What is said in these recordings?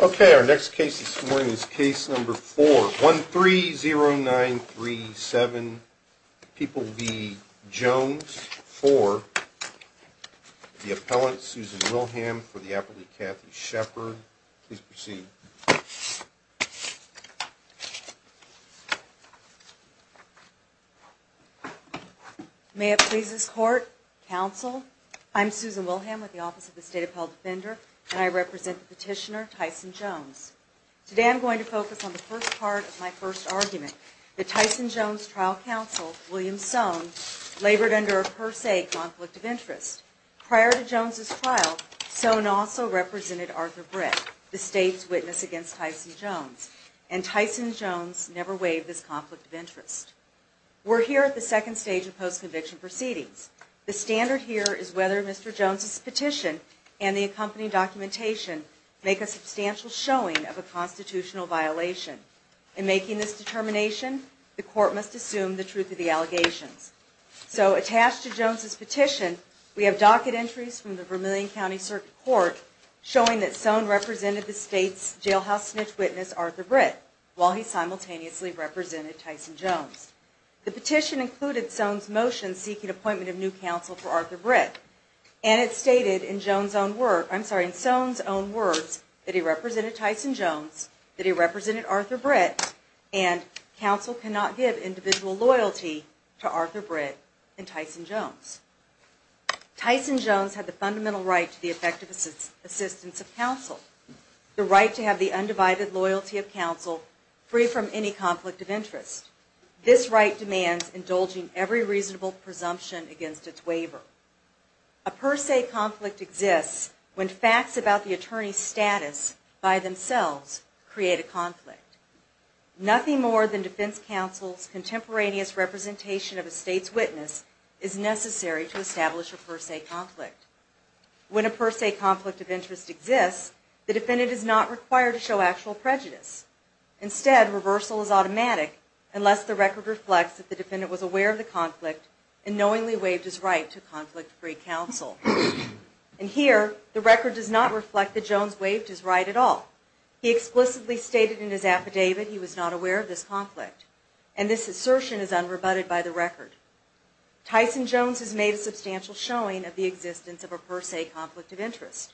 Okay, our next case this morning is case number 4, 130937 People v. Jones for the appellant Susan Wilhelm for the appellate Kathy Sheppard. Please proceed. May it please this Court, Counsel, I'm Susan Wilhelm with the Office of the State Appellate Defender and I represent the petitioner Tyson Jones. Today I'm going to focus on the first part of my first argument that Tyson Jones' trial counsel, William Soane, labored under a per se conflict of interest. Prior to Jones' trial, Soane also represented Arthur Britt, the state's witness against Tyson Jones, and Tyson Jones never waived this conflict of interest. We're here at the second stage of post-conviction proceedings. The standard here is whether Mr. Jones' petition and the accompanying documentation make a substantial showing of a constitutional violation. In making this determination, the Court must assume the truth of the allegations. So, attached to Jones' petition, we have docket entries from the Vermillion County Circuit Court showing that Soane represented the state's jailhouse snitch witness, Arthur Britt, while he simultaneously represented Tyson Jones. The petition included Soane's motion seeking appointment of new counsel for Arthur Britt, and it stated in Soane's own words that he represented Tyson Jones, that he represented Arthur Britt, and counsel cannot give individual loyalty to Arthur Britt and Tyson Jones. Tyson Jones had the fundamental right to the effective assistance of counsel, the right to have the undivided loyalty of counsel free from any conflict of interest. This right demands indulging every reasonable presumption against its waiver. A per se conflict exists when facts about the attorney's status by themselves create a conflict. Nothing more than defense counsel's contemporaneous representation of a state's witness is necessary to establish a per se conflict. When a per se conflict of interest exists, the defendant is not required to show actual prejudice. Instead, reversal is automatic unless the record reflects that the defendant was aware of the conflict and knowingly waived his right to conflict-free counsel. And here, the record does not reflect that Jones waived his right at all. He explicitly stated in his affidavit he was not aware of this conflict, and this assertion is unrebutted by the record. Tyson Jones has made a substantial showing of the existence of a per se conflict of interest,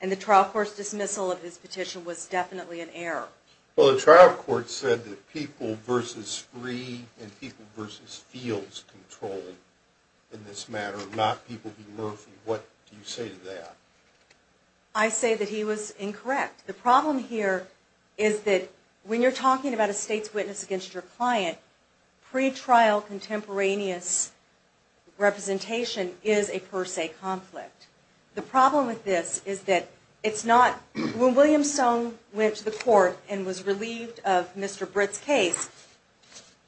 and the trial court's dismissal of his petition was definitely an error. Well, the trial court said that people versus free and people versus fields control in this matter, not people v. Murphy. What do you say to that? I say that he was incorrect. The problem here is that when you're talking about a state's witness against your client, pretrial contemporaneous representation is a per se conflict. The problem with this is that it's not – when William Stone went to the court and was relieved of Mr. Britt's case,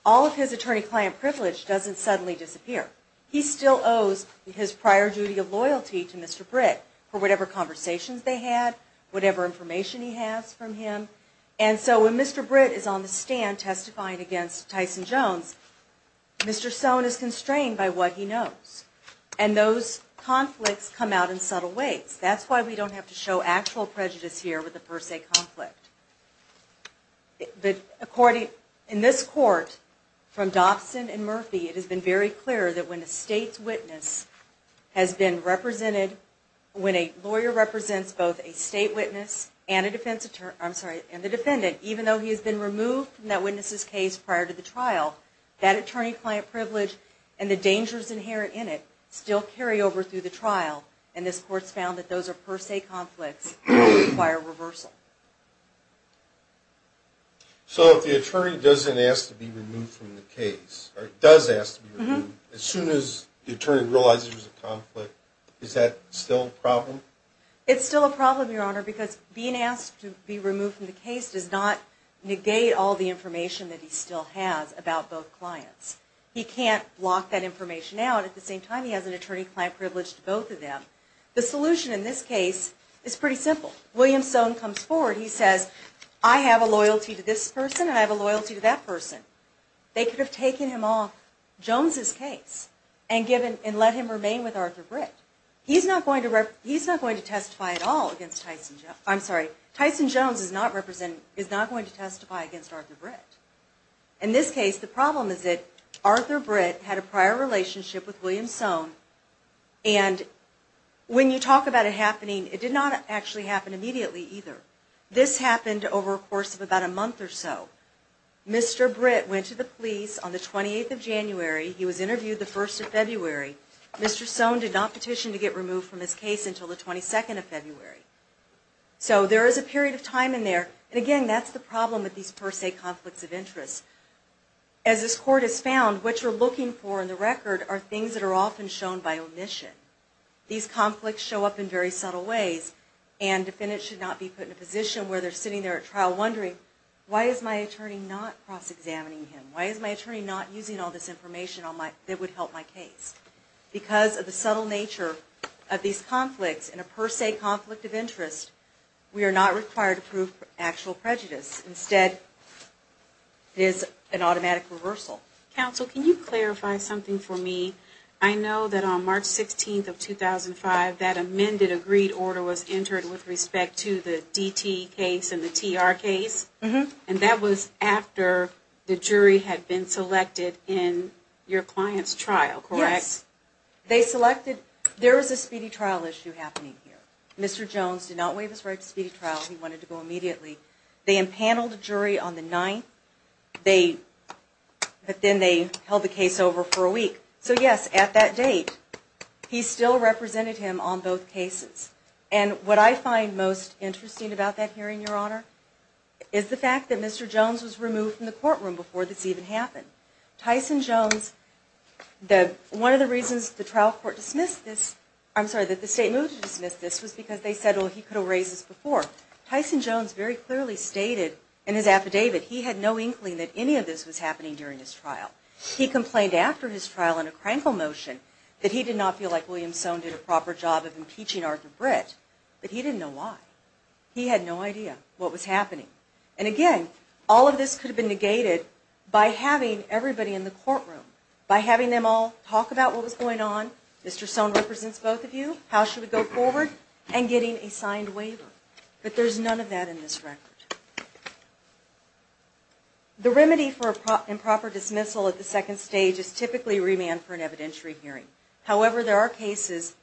all of his attorney-client privilege doesn't suddenly disappear. He still owes his prior duty of loyalty to Mr. Britt for whatever conversations they had, whatever information he has from him. And so when Mr. Britt is on the stand testifying against Tyson Jones, Mr. Stone is constrained by what he knows. And those conflicts come out in subtle ways. That's why we don't have to show actual prejudice here with a per se conflict. In this court, from Dobson and Murphy, it has been very clear that when a state's witness has been represented, when a lawyer represents both a state witness and the defendant, even though he has been removed from that witness's case prior to the trial, that attorney-client privilege and the dangers inherent in it still carry over through the trial. And this court's found that those are per se conflicts that require reversal. So if the attorney doesn't ask to be removed from the case, or does ask to be removed, as soon as the attorney realizes there's a conflict, is that still a problem? It's still a problem, Your Honor, because being asked to be removed from the case does not negate all the information that he still has about both clients. He can't block that information out. At the same time, he has an attorney-client privilege to both of them. The solution in this case is pretty simple. William Stone comes forward. He says, I have a loyalty to this person, and I have a loyalty to that person. They could have taken him off Jones' case and let him remain with Arthur Britt. He's not going to testify at all against Tyson Jones. I'm sorry, Tyson Jones is not going to testify against Arthur Britt. In this case, the problem is that Arthur Britt had a prior relationship with William Stone, and when you talk about it happening, it did not actually happen immediately either. This happened over a course of about a month or so. Mr. Britt went to the police on the 28th of January. He was interviewed the 1st of February. Mr. Stone did not petition to get removed from his case until the 22nd of February. So there is a period of time in there. Again, that's the problem with these per se conflicts of interest. As this court has found, what you're looking for in the record are things that are often shown by omission. These conflicts show up in very subtle ways, and defendants should not be put in a position where they're sitting there at trial wondering, why is my attorney not cross-examining him? Why is my attorney not using all this information that would help my case? Because of the subtle nature of these conflicts and a per se conflict of interest, we are not required to prove actual prejudice. Instead, it is an automatic reversal. Counsel, can you clarify something for me? I know that on March 16th of 2005, that amended agreed order was entered with respect to the DT case and the TR case, and that was after the jury had been selected in your client's trial, correct? Yes. There was a speedy trial issue happening here. Mr. Jones did not waive his right to speedy trial. He wanted to go immediately. They empaneled a jury on the 9th, but then they held the case over for a week. So yes, at that date, he still represented him on both cases. And what I find most interesting about that hearing, Your Honor, is the fact that Mr. Jones was removed from the courtroom before this even happened. Tyson Jones, one of the reasons the trial court dismissed this, I'm sorry, that the state moved to dismiss this, was because they said, well, he could have raised this before. Tyson Jones very clearly stated in his affidavit, he had no inkling that any of this was happening during his trial. He complained after his trial in a crankle motion that he did not feel like William Soane did a proper job of impeaching Arthur Britt, but he didn't know why. He had no idea what was happening. And again, all of this could have been negated by having everybody in the courtroom, by having them all talk about what was going on, Mr. Soane represents both of you, how should we go forward, and getting a signed waiver. But there's none of that in this record. The remedy for improper dismissal at the second stage is typically remand for an evidentiary hearing. However, there are cases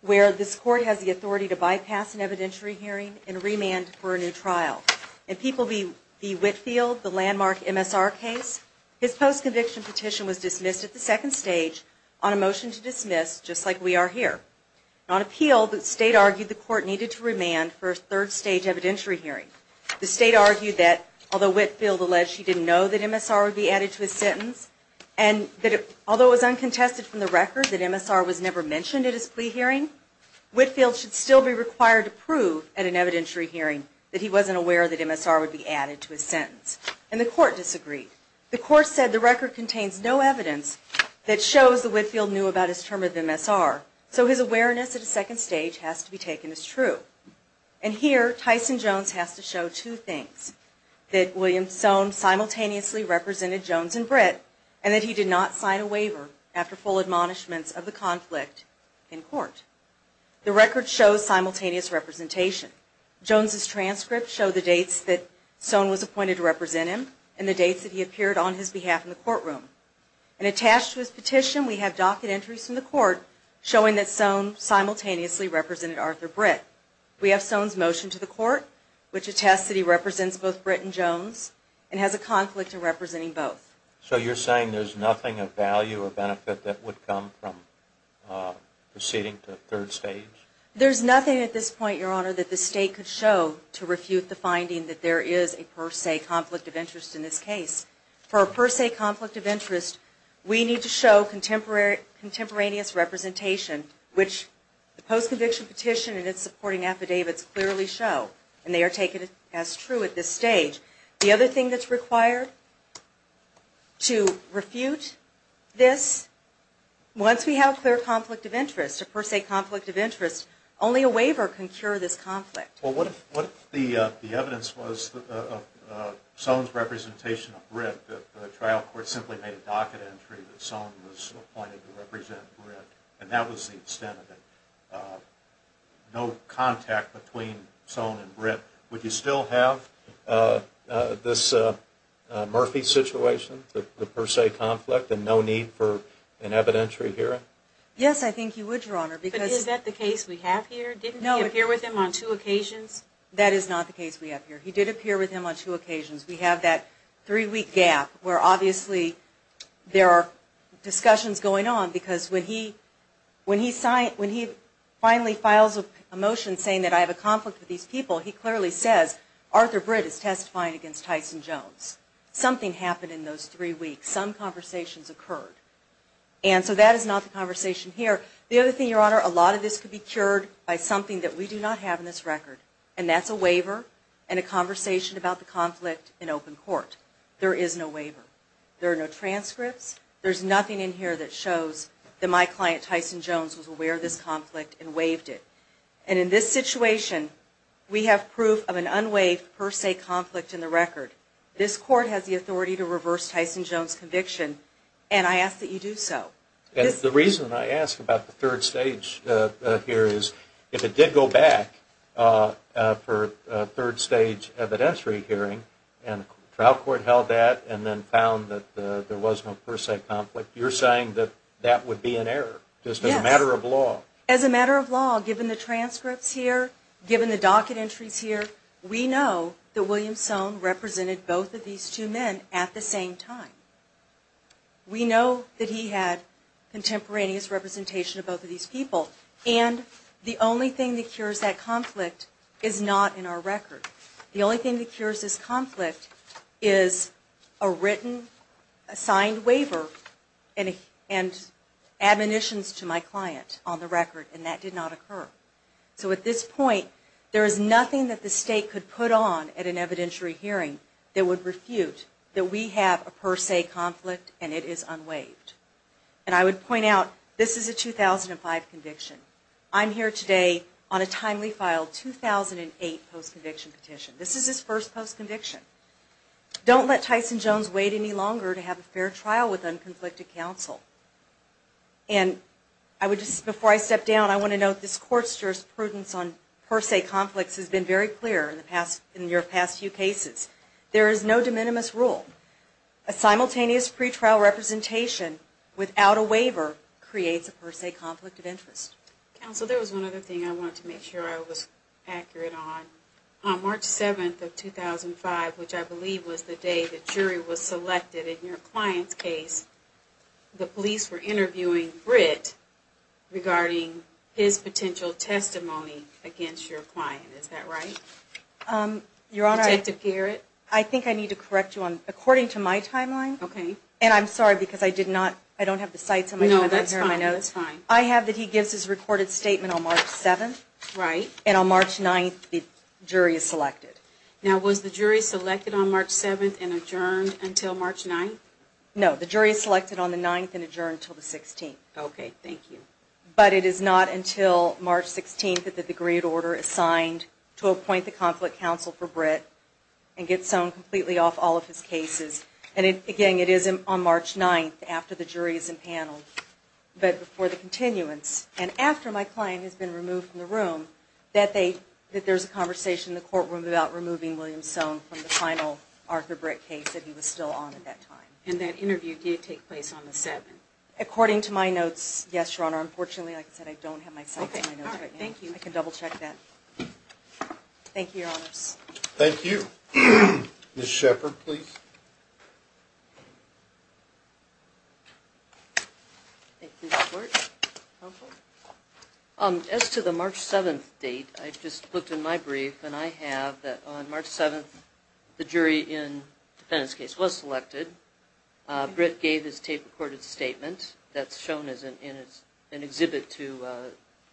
where this court has the authority to bypass an evidentiary hearing and remand for a new trial. In People v. Whitfield, the landmark MSR case, his post-conviction petition was dismissed at the second stage on a motion to dismiss, just like we are here. On appeal, the state argued the court needed to remand for a third stage evidentiary hearing. The state argued that although Whitfield alleged she didn't know that MSR would be added to his sentence, and that although it was uncontested from the record that MSR was never mentioned at his plea hearing, Whitfield should still be required to prove at an evidentiary hearing that he wasn't aware that MSR would be added to his sentence. And the court disagreed. The court said the record contains no evidence that shows that Whitfield knew about his term of MSR, so his awareness at a second stage has to be taken as true. And here, Tyson Jones has to show two things, that William Soane simultaneously represented Jones and Britt, and that he did not sign a waiver after full admonishments of the conflict in court. The record shows simultaneous representation. Jones' transcripts show the dates that Soane was appointed to represent him and the dates that he appeared on his behalf in the courtroom. And attached to his petition, we have docket entries from the court showing that Soane simultaneously represented Arthur Britt. We have Soane's motion to the court, which attests that he represents both Britt and Jones, and has a conflict in representing both. So you're saying there's nothing of value or benefit that would come from proceeding to a third stage? There's nothing at this point, Your Honor, that the State could show to refute the finding that there is a per se conflict of interest in this case. For a per se conflict of interest, we need to show contemporaneous representation, which the post-conviction petition and its supporting affidavits clearly show. And they are taken as true at this stage. The other thing that's required to refute this, once we have a clear conflict of interest, a per se conflict of interest, only a waiver can cure this conflict. Well, what if the evidence was Soane's representation of Britt, that the trial court simply made a docket entry that Soane was appointed to represent Britt, and that was the extent of it? No contact between Soane and Britt. Would you still have this Murphy situation, the per se conflict, and no need for an evidentiary hearing? Yes, I think you would, Your Honor. But is that the case we have here? Didn't he appear with him on two occasions? That is not the case we have here. He did appear with him on two occasions. We have that three-week gap where obviously there are discussions going on because when he finally files a motion saying that I have a conflict with these people, he clearly says, Arthur Britt is testifying against Tyson Jones. Something happened in those three weeks. Some conversations occurred. And so that is not the conversation here. The other thing, Your Honor, a lot of this could be cured by something that we do not have in this record, and that's a waiver and a conversation about the conflict in open court. There is no waiver. There are no transcripts. There's nothing in here that shows that my client Tyson Jones was aware of this conflict and waived it. And in this situation, we have proof of an unwaived per se conflict in the record. This Court has the authority to reverse Tyson Jones' conviction, and I ask that you do so. The reason I ask about the third stage here is if it did go back for a third stage evidentiary hearing and the trial court held that and then found that there was no per se conflict, you're saying that that would be an error just as a matter of law? As a matter of law, given the transcripts here, given the docket entries here, we know that William Soane represented both of these two men at the same time. We know that he had contemporaneous representation of both of these people, and the only thing that cures that conflict is not in our record. The only thing that cures this conflict is a written, signed waiver and admonitions to my client on the record, and that did not occur. So at this point, there is nothing that the State could put on at an evidentiary hearing that would refute that we have a per se conflict and it is unwaived. And I would point out, this is a 2005 conviction. I'm here today on a timely filed 2008 post-conviction petition. This is his first post-conviction. Don't let Tyson Jones wait any longer to have a fair trial with unconflicted counsel. And before I step down, I want to note this court's jurisprudence on per se conflicts has been very clear in your past few cases. There is no de minimis rule. A simultaneous pretrial representation without a waiver creates a per se conflict of interest. Counsel, there was one other thing I wanted to make sure I was accurate on. On March 7th of 2005, which I believe was the day the jury was selected in your client's case, the police were interviewing Britt regarding his potential testimony against your client. Is that right? Your Honor, I think I need to correct you. According to my timeline, and I'm sorry because I don't have the sites. No, that's fine. I have that he gives his recorded statement on March 7th. Right. And on March 9th, the jury is selected. Now, was the jury selected on March 7th and adjourned until March 9th? No, the jury is selected on the 9th and adjourned until the 16th. Okay, thank you. But it is not until March 16th that the degreed order is signed to appoint the conflict counsel for Britt and get sown completely off all of his cases. And again, it is on March 9th after the jury is in panel, but before the continuance. And after my client has been removed from the room, that there's a conversation in the courtroom about removing William Sown from the final Arthur Britt case that he was still on at that time. And that interview did take place on the 7th? According to my notes, yes, Your Honor. Unfortunately, like I said, I don't have my sites on my notes right now. Okay, all right, thank you. I can double check that. Thank you, Your Honors. Thank you. Ms. Shepard, please. As to the March 7th date, I've just looked in my brief, and I have that on March 7th the jury in the defendant's case was selected. Britt gave his tape-recorded statement that's shown in an exhibit to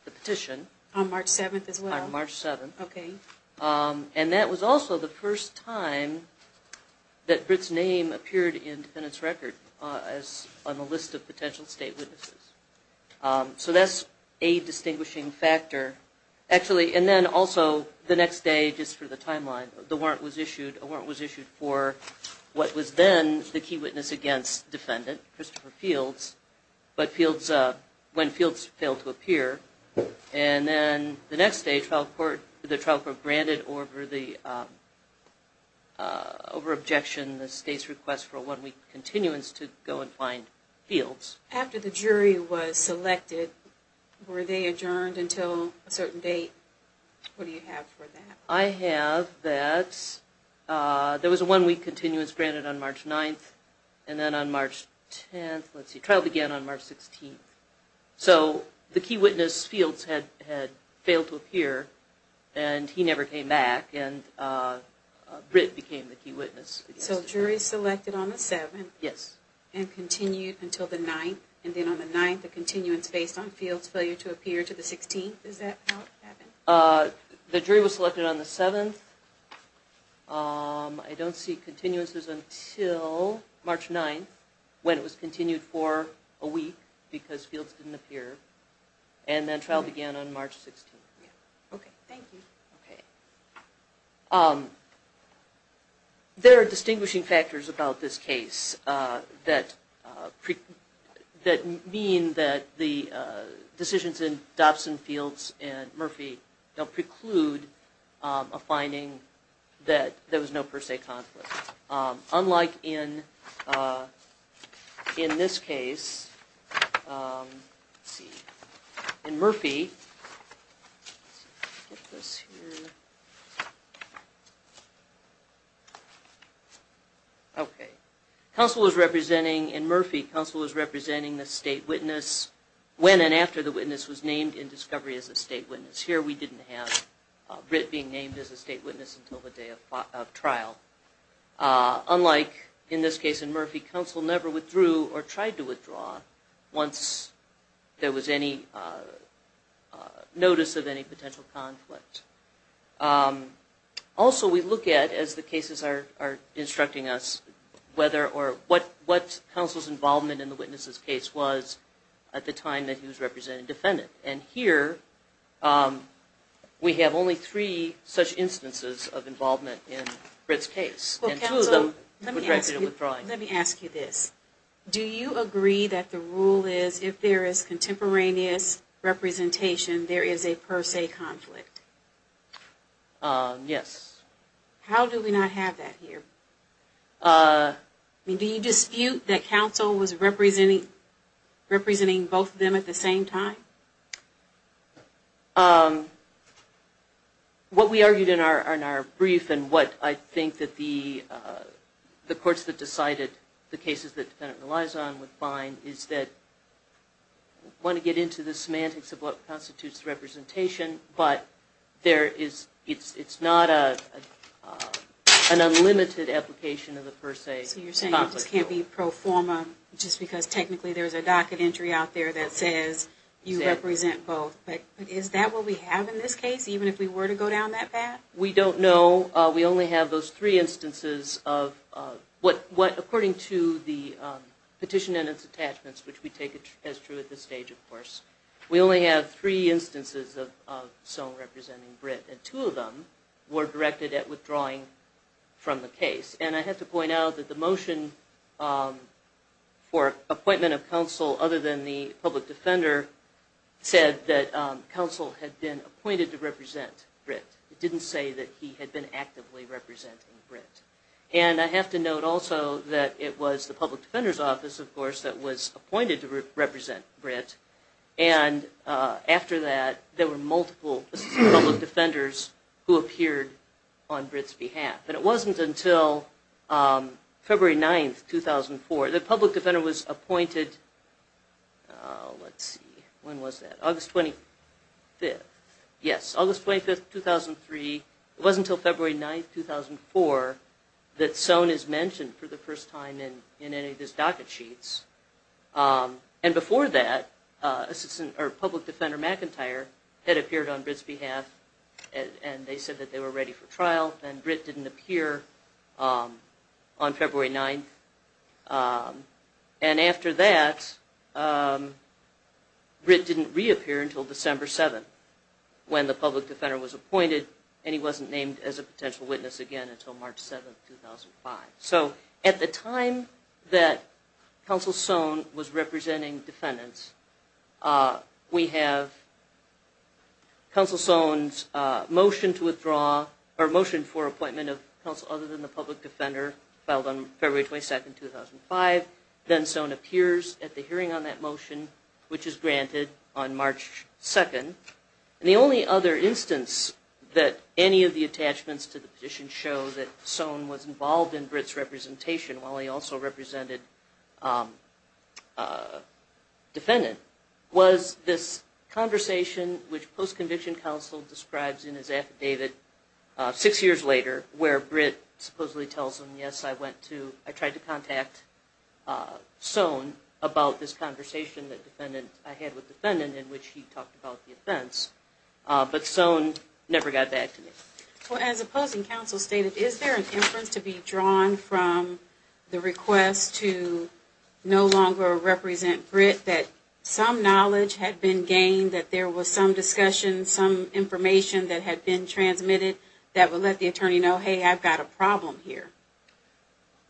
the petition. On March 7th as well? On March 7th. Britt's name appeared in the defendant's record on the list of potential state witnesses. So that's a distinguishing factor. Actually, and then also the next day, just for the timeline, the warrant was issued. A warrant was issued for what was then the key witness against defendant, Christopher Fields, but when Fields failed to appear. And then the next day the trial court granted over objection the state's request for a one-week continuance to go and find Fields. After the jury was selected, were they adjourned until a certain date? What do you have for that? I have that there was a one-week continuance granted on March 9th, and then on March 10th, let's see, trial began on March 16th. So the key witness, Fields, had failed to appear, and he never came back, and Britt became the key witness. So jury selected on the 7th? Yes. And continued until the 9th, and then on the 9th a continuance based on Fields' failure to appear to the 16th? Is that how it happened? The jury was selected on the 7th. I don't see continuances until March 9th when it was continued for a week because Fields didn't appear, and then trial began on March 16th. Okay, thank you. Okay. There are distinguishing factors about this case that mean that the decisions in Dobson, Fields, and Murphy don't preclude a finding that there was no per se conflict. Unlike in this case, let's see, in Murphy, let's get this here. Okay. Counsel was representing, in Murphy, counsel was representing the state witness when and after the witness was named in discovery as a state witness. Here we didn't have Britt being named as a state witness until the day of trial. Unlike in this case in Murphy, counsel never withdrew or tried to withdraw once there was any notice of any potential conflict. Also we look at, as the cases are instructing us, what counsel's involvement in the witness's case was at the time that he was representing defendant. And here we have only three such instances of involvement in Britt's case. Well, counsel, let me ask you this. Do you agree that the rule is if there is contemporaneous representation, there is a per se conflict? Yes. How do we not have that here? Do you dispute that counsel was representing both of them at the same time? What we argued in our brief and what I think that the courts that decided the cases that the defendant relies on would find is that, I don't want to get into the semantics of what constitutes representation, but there is, it's not an unlimited application of the per se conflict. So you're saying it just can't be pro forma just because technically there's a docket entry out there that says you represent both. But is that what we have in this case, even if we were to go down that path? We don't know. We only have those three instances of what, according to the petition and its attachments, which we take as true at this stage, of course. We only have three instances of someone representing Britt and two of them were directed at withdrawing from the case. And I have to point out that the motion for appointment of counsel other than the public defender said that counsel had been appointed to represent Britt. It didn't say that he had been actively representing Britt. And I have to note also that it was the public defender's office, of course, that was appointed to represent Britt. And after that, there were multiple public defenders who appeared on Britt's behalf. And it wasn't until February 9th, 2004, the public defender was appointed, let's see, when was that? August 25th. Yes, August 25th, 2003. It wasn't until February 9th, 2004, that Soane is mentioned for the first time in any of his docket sheets. And before that, public defender McIntyre had appeared on Britt's behalf and they said that they were ready for trial and Britt didn't appear on February 9th. And after that, Britt didn't reappear until December 7th when the public defender was appointed and he wasn't named as a potential witness again until March 7th, 2005. So at the time that counsel Soane was representing defendants, we have counsel Soane's motion to withdraw, or motion for appointment of counsel other than the public defender, filed on February 22nd, 2005. Then Soane appears at the hearing on that motion, which is granted on March 2nd. And the only other instance that any of the attachments to the petition show that Soane was involved in Britt's representation while he also represented a defendant was this conversation which post-conviction counsel describes in his affidavit six years later where Britt supposedly tells him, yes, I went to, I tried to contact Soane about this conversation that I had with the defendant in which he talked about the offense, but Soane never got back to me. As opposing counsel stated, is there an inference to be drawn from the request to no longer represent Britt that some knowledge had been gained, that there was some discussion, some information that had been transmitted that would let the attorney know, hey, I've got a problem here?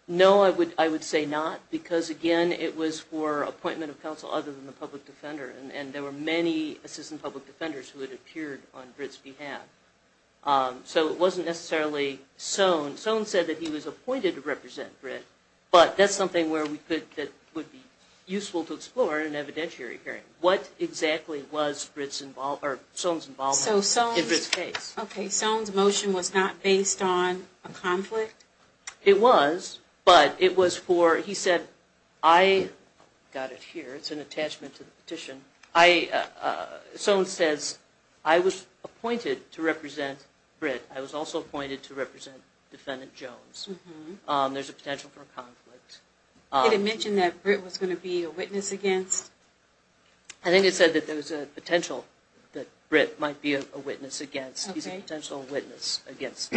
No, I would say not, because again, it was for appointment of counsel other than the public defender, and there were many assistant public defenders who had appeared on Britt's behalf. So it wasn't necessarily Soane. Soane said that he was appointed to represent Britt, but that's something that would be useful to explore in an evidentiary hearing. What exactly was Soane's involvement in Britt's case? Okay, Soane's motion was not based on a conflict? It was, but it was for, he said, I got it here, it's an attachment to the petition. Soane says, I was appointed to represent Britt. I was also appointed to represent Defendant Jones. There's a potential for a conflict. Did it mention that Britt was going to be a witness against? I think it said that there was a potential that Britt might be a witness against. He's a potential witness against.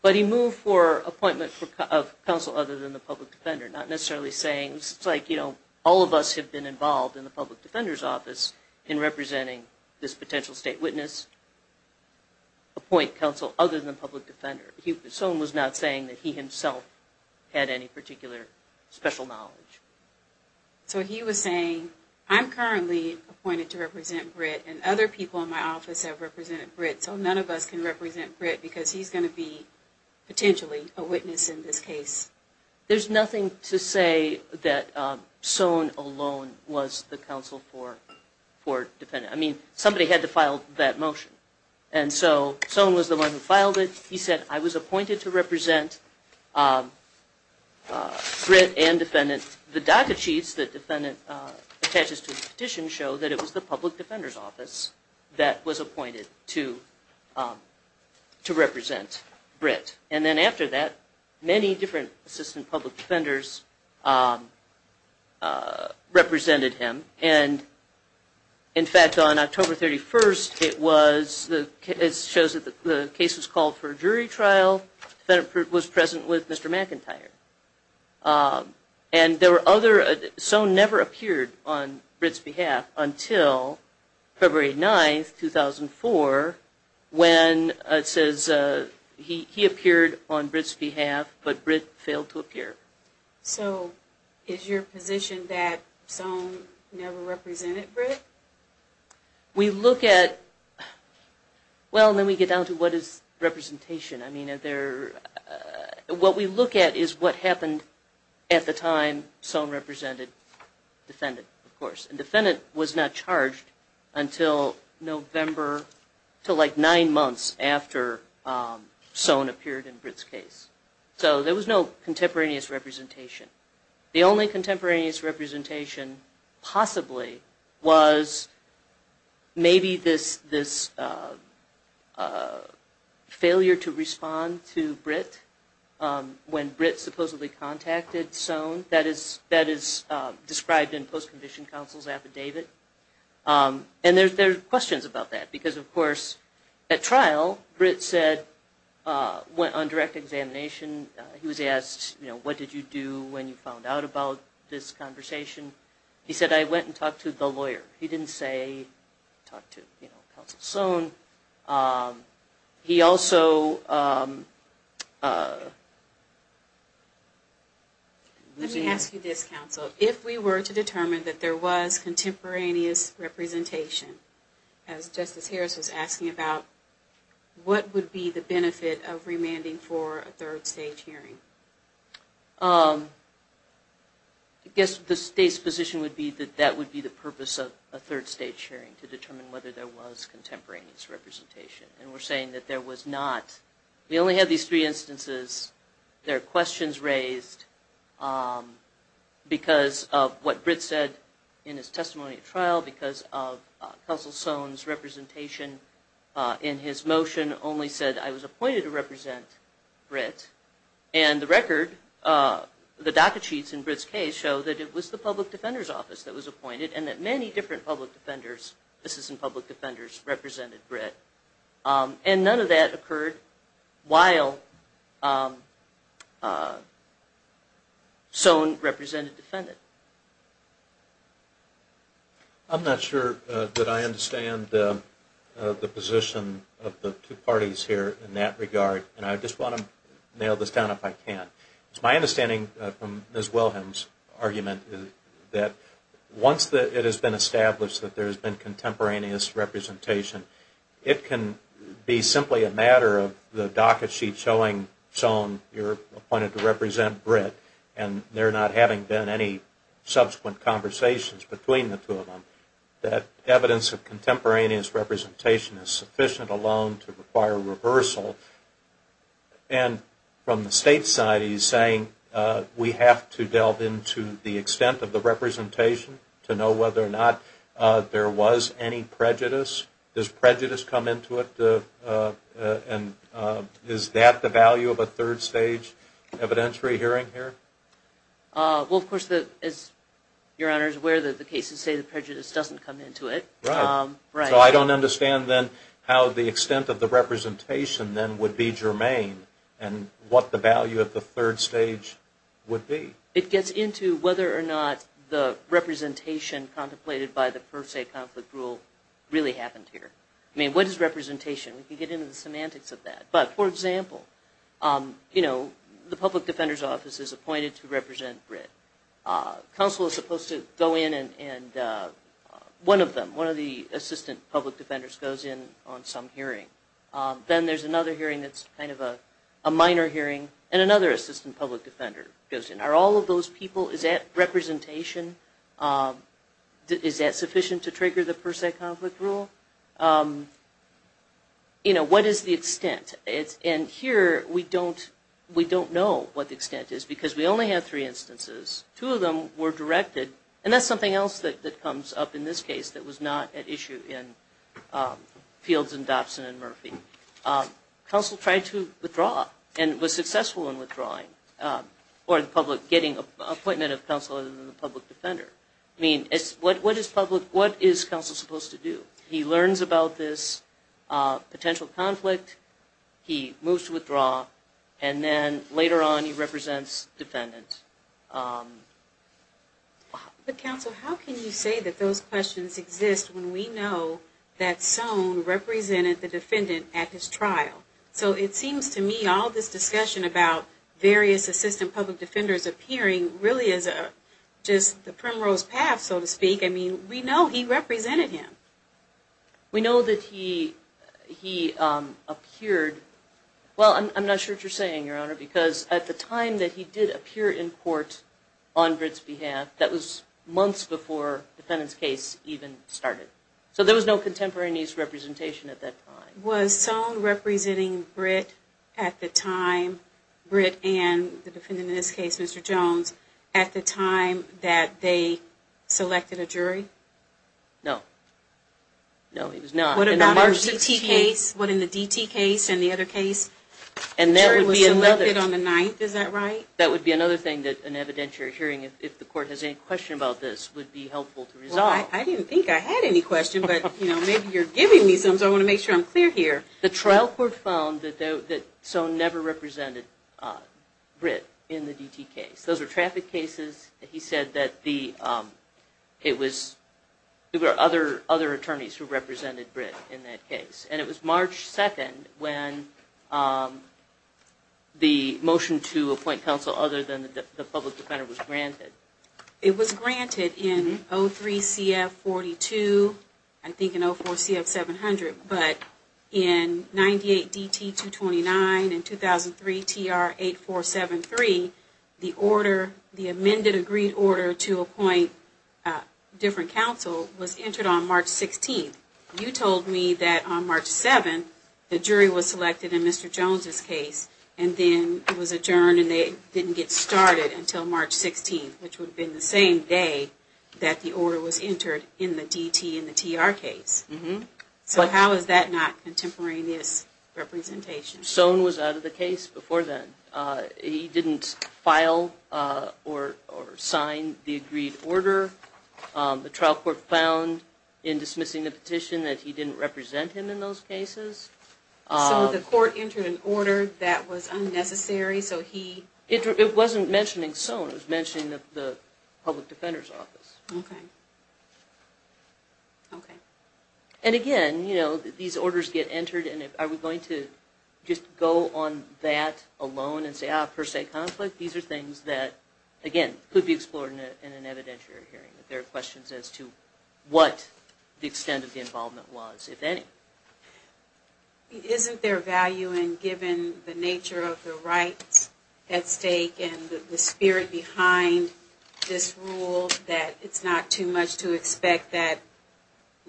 But he moved for appointment of counsel other than the public defender, not necessarily saying, it's like, you know, all of us have been involved in the public defender's office in representing this potential state witness, appoint counsel other than the public defender. Soane was not saying that he himself had any particular special knowledge. So he was saying, I'm currently appointed to represent Britt, and other people in my office have represented Britt, so none of us can represent Britt because he's going to be potentially a witness in this case. There's nothing to say that Soane alone was the counsel for Defendant. I mean, somebody had to file that motion. And so Soane was the one who filed it. He said, I was appointed to represent Britt and Defendant. The docket sheets that Defendant attaches to his petition show that it was the public defender's office that was appointed to represent Britt. And then after that, many different assistant public defenders represented him. And in fact, on October 31st, it was, it shows that the case was called for a jury trial. Defendant was present with Mr. McIntyre. And there were other, Soane never appeared on Britt's behalf until February 9, 2004, when it says he appeared on Britt's behalf, but Britt failed to appear. So is your position that Soane never represented Britt? We look at, well, let me get down to what is representation. I mean, what we look at is what happened at the time Soane represented Defendant, of course. And Defendant was not charged until November, until like nine months after Soane appeared in Britt's case. So there was no contemporaneous representation. The only contemporaneous representation possibly was maybe this failure to respond to Britt when Britt supposedly contacted Soane. That is described in post-conviction counsel's affidavit. And there's questions about that, because of course, at trial, Britt said, went on direct examination. He was asked, you know, what did you do when you found out about this conversation? He said, I went and talked to the lawyer. He didn't say talk to, you know, counsel Soane. He also... Let me ask you this, counsel. If we were to determine that there was contemporaneous representation, as Justice Harris was asking about, what would be the benefit of remanding for a third stage hearing? I guess the state's position would be that that would be the purpose of a third stage hearing, to determine whether there was contemporaneous representation. And we're saying that there was not. We only have these three instances. There are questions raised because of what Britt said in his testimony at trial, because of counsel Soane's representation in his motion only said, I was appointed to represent Britt. And the record, the docket sheets in Britt's case, show that it was the public defender's office that was appointed, and that many different public defenders, assistant public defenders, represented Britt. And none of that occurred while Soane represented defendant. I'm not sure that I understand the position of the two parties here in that regard. And I just want to nail this down if I can. It's my understanding from Ms. Wilhelm's argument that once it has been established that there has been contemporaneous representation, it can be simply a matter of the docket sheet showing Soane, you're appointed to represent Britt, and there not having been any subsequent conversations between the two of them, that evidence of contemporaneous representation is sufficient alone to require reversal. And from the state's side, he's saying we have to delve into the extent of the representation to know whether or not there was any prejudice. Does prejudice come into it? And is that the value of a third stage evidentiary hearing here? Well, of course, as Your Honor is aware, the cases say the prejudice doesn't come into it. Right. So I don't understand then how the extent of the representation then would be germane and what the value of the third stage would be. It gets into whether or not the representation contemplated by the first state conflict rule really happened here. I mean, what is representation? We can get into the semantics of that. But, for example, you know, the public defender's office is appointed to represent Britt. Counsel is supposed to go in and one of them, one of the assistant public defenders, goes in on some hearing. Then there's another hearing that's kind of a minor hearing, and another assistant public defender goes in. Are all of those people, is that representation? Is that sufficient to trigger the first state conflict rule? You know, what is the extent? And here we don't know what the extent is because we only have three instances. Two of them were directed, and that's something else that comes up in this case that was not at issue in Fields and Dobson and Murphy. Counsel tried to withdraw and was successful in withdrawing or the public getting an appointment of counsel other than the public defender. I mean, what is counsel supposed to do? He learns about this potential conflict, he moves to withdraw, and then later on he represents defendants. But, counsel, how can you say that those questions exist when we know that So it seems to me all this discussion about various assistant public defenders appearing really is just the primrose path, so to speak. I mean, we know he represented him. We know that he appeared. Well, I'm not sure what you're saying, Your Honor, because at the time that he did appear in court on Britt's behalf, that was months before defendant's case even started. So there was no contemporary niece representation at that time. Was Sohn representing Britt at the time, Britt and the defendant in this case, Mr. Jones, at the time that they selected a jury? No. No, he was not. What about in the DT case and the other case? The jury was selected on the 9th, is that right? That would be another thing that an evidentiary hearing, if the court has any question about this, would be helpful to resolve. I didn't think I had any question, but maybe you're giving me some, so I want to make sure I'm clear here. The trial court found that Sohn never represented Britt in the DT case. Those were traffic cases. He said that there were other attorneys who represented Britt in that case, and it was March 2nd when the motion to appoint counsel other than the public defender was granted. It was granted in 03-CF42, I think in 04-CF700, but in 98-DT229 and 2003-TR8473, the amended agreed order to appoint a different counsel was entered on March 16th. You told me that on March 7th the jury was selected in Mr. Jones' case and then it was adjourned and they didn't get started until March 16th, which would have been the same day that the order was entered in the DT and the TR case. So how is that not contemporaneous representation? Sohn was out of the case before then. He didn't file or sign the agreed order. The trial court found in dismissing the petition that he didn't represent him in those cases. So the court entered an order that was unnecessary? It wasn't mentioning Sohn. It was mentioning the public defender's office. And again, these orders get entered, and are we going to just go on that alone and say, ah, per se conflict? These are things that, again, could be explored in an evidentiary hearing if there are questions as to what the extent of the involvement was, if any. Isn't there value in giving the nature of the rights at stake and the spirit behind this rule that it's not too much to expect that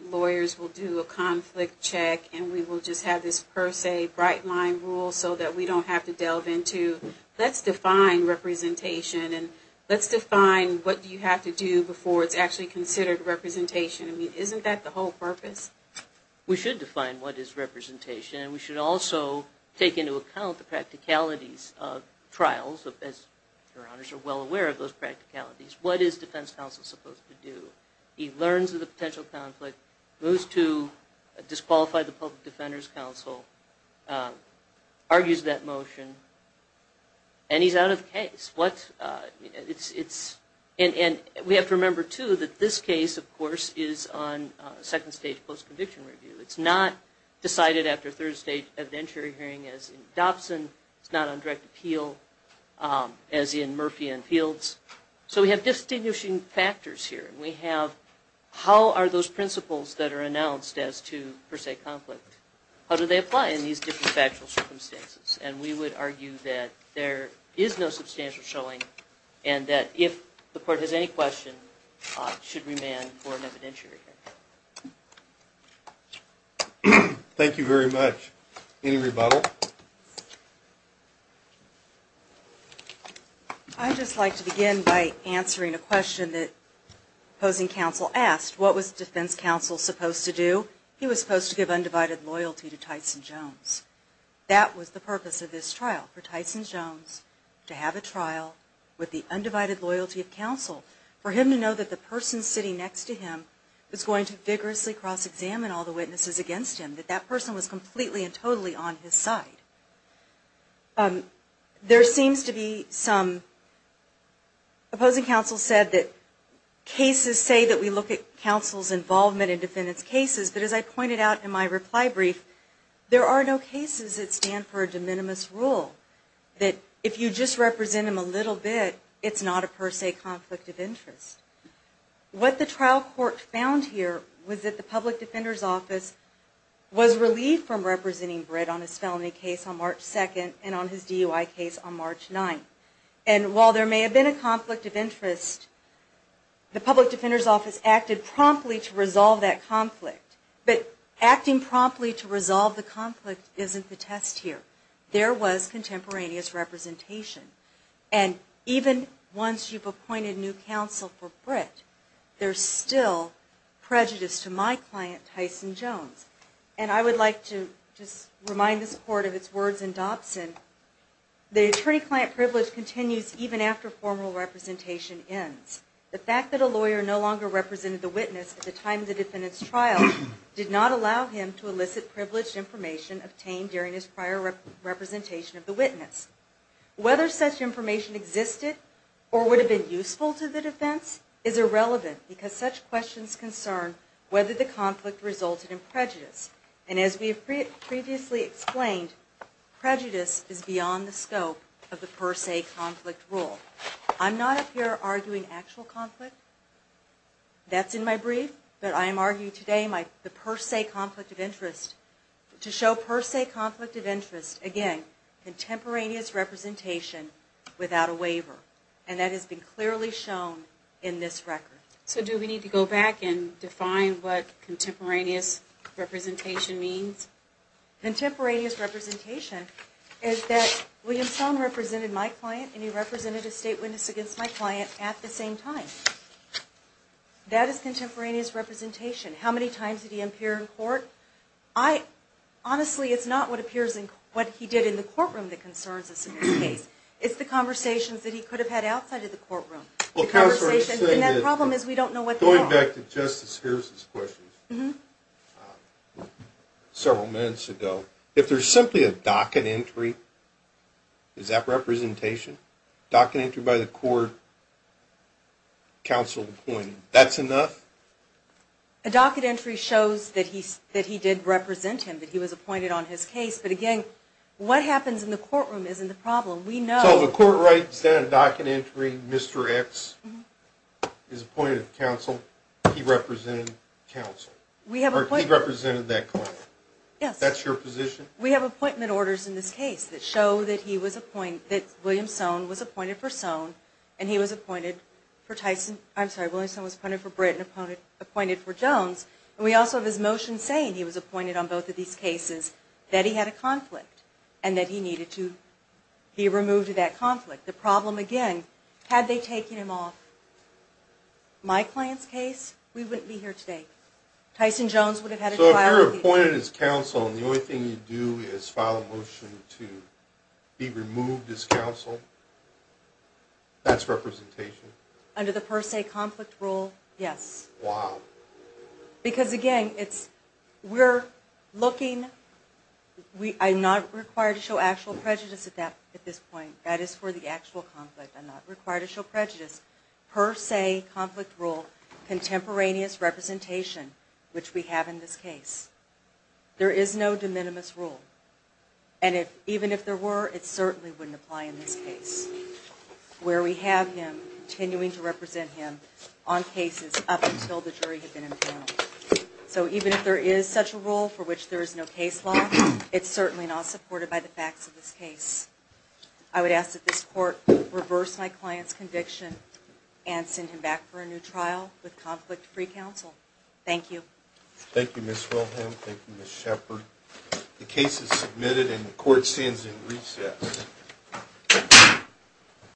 lawyers will do a conflict check and we will just have this per se bright-line rule so that we don't have to delve into let's define representation and let's define what you have to do before it's actually considered representation. I mean, isn't that the whole purpose? We should define what is representation, and we should also take into account the practicalities of trials, as Your Honors are well aware of those practicalities. What is defense counsel supposed to do? He learns of the potential conflict, moves to disqualify the public defender's counsel, argues that motion, and he's out of the case. And we have to remember, too, that this case, of course, is on second-stage post-conviction review. It's not decided after third-stage evidentiary hearing as in Dobson. It's not on direct appeal as in Murphy and Fields. So we have distinguishing factors here, and we have how are those principles that are announced as to per se conflict, how do they apply in these different factual circumstances? And we would argue that there is no substantial showing and that if the court has any question, it should remain for an evidentiary hearing. Thank you very much. Any rebuttal? I'd just like to begin by answering a question that opposing counsel asked. What was defense counsel supposed to do? He was supposed to give undivided loyalty to Tyson Jones. That was the purpose of this trial, for Tyson Jones to have a trial with the undivided loyalty of counsel, for him to know that the person sitting next to him was going to vigorously cross-examine all the witnesses against him, that that person was completely and totally on his side. There seems to be some opposing counsel said that cases say that we look at counsel's involvement in defendant's cases, but as I pointed out in my reply brief, there are no cases that stand for a de minimis rule, that if you just represent him a little bit, it's not a per se conflict of interest. What the trial court found here was that the public defender's office was relieved from representing Britt on his felony case on March 2nd and on his DUI case on March 9th. And while there may have been a conflict of interest, the public defender's office acted promptly to resolve that conflict. But acting promptly to resolve the conflict isn't the test here. There was contemporaneous representation. And even once you've appointed new counsel for Britt, there's still prejudice to my client, Tyson Jones. And I would like to just remind this court of its words in Dobson, the attorney-client privilege continues even after formal representation ends. The fact that a lawyer no longer represented the witness at the time of the defendant's trial did not allow him to elicit privileged information obtained during his prior representation of the witness. Whether such information existed or would have been useful to the defense is irrelevant because such questions concern whether the conflict resulted in prejudice. And as we have previously explained, prejudice is beyond the scope of the per se conflict rule. I'm not up here arguing actual conflict. That's in my brief. But I am arguing today the per se conflict of interest. To show per se conflict of interest, again, contemporaneous representation without a waiver. And that has been clearly shown in this record. So do we need to go back and define what contemporaneous representation means? Contemporaneous representation is that William Stone represented my client and he represented a state witness against my client at the same time. That is contemporaneous representation. How many times did he appear in court? Honestly, it's not what he did in the courtroom that concerns us in this case. It's the conversations that he could have had outside of the courtroom. And that problem is we don't know what they are. Going back to Justice Hirsch's question several minutes ago, if there's simply a docket entry, is that representation? Docket entry by the court, counsel appointed. That's enough? A docket entry shows that he did represent him, that he was appointed on his case. But again, what happens in the courtroom isn't the problem. So the court writes down a docket entry, Mr. X is appointed counsel, he represented counsel. He represented that client. Yes. That's your position? We have appointment orders in this case that show that he was appointed, that William Stone was appointed for Stone and he was appointed for Tyson. I'm sorry, William Stone was appointed for Britt and appointed for Jones. And we also have his motion saying he was appointed on both of these cases, that he had a conflict and that he needed to be removed of that conflict. The problem again, had they taken him off my client's case, we wouldn't be here today. So if you're appointed as counsel and the only thing you do is file a motion to be removed as counsel, that's representation? Under the per se conflict rule, yes. Wow. Because, again, we're looking, I'm not required to show actual prejudice at this point. That is for the actual conflict. I'm not required to show prejudice. Per se conflict rule, contemporaneous representation, which we have in this case. There is no de minimis rule. And even if there were, it certainly wouldn't apply in this case, where we have him continuing to represent him on cases up until the jury had been impounded. So even if there is such a rule for which there is no case law, it's certainly not supported by the facts of this case. I would ask that this court reverse my client's conviction and send him back for a new trial with conflict-free counsel. Thank you. Thank you, Ms. Wilhelm. Thank you, Ms. Shepard. The case is submitted and the court stands in recess.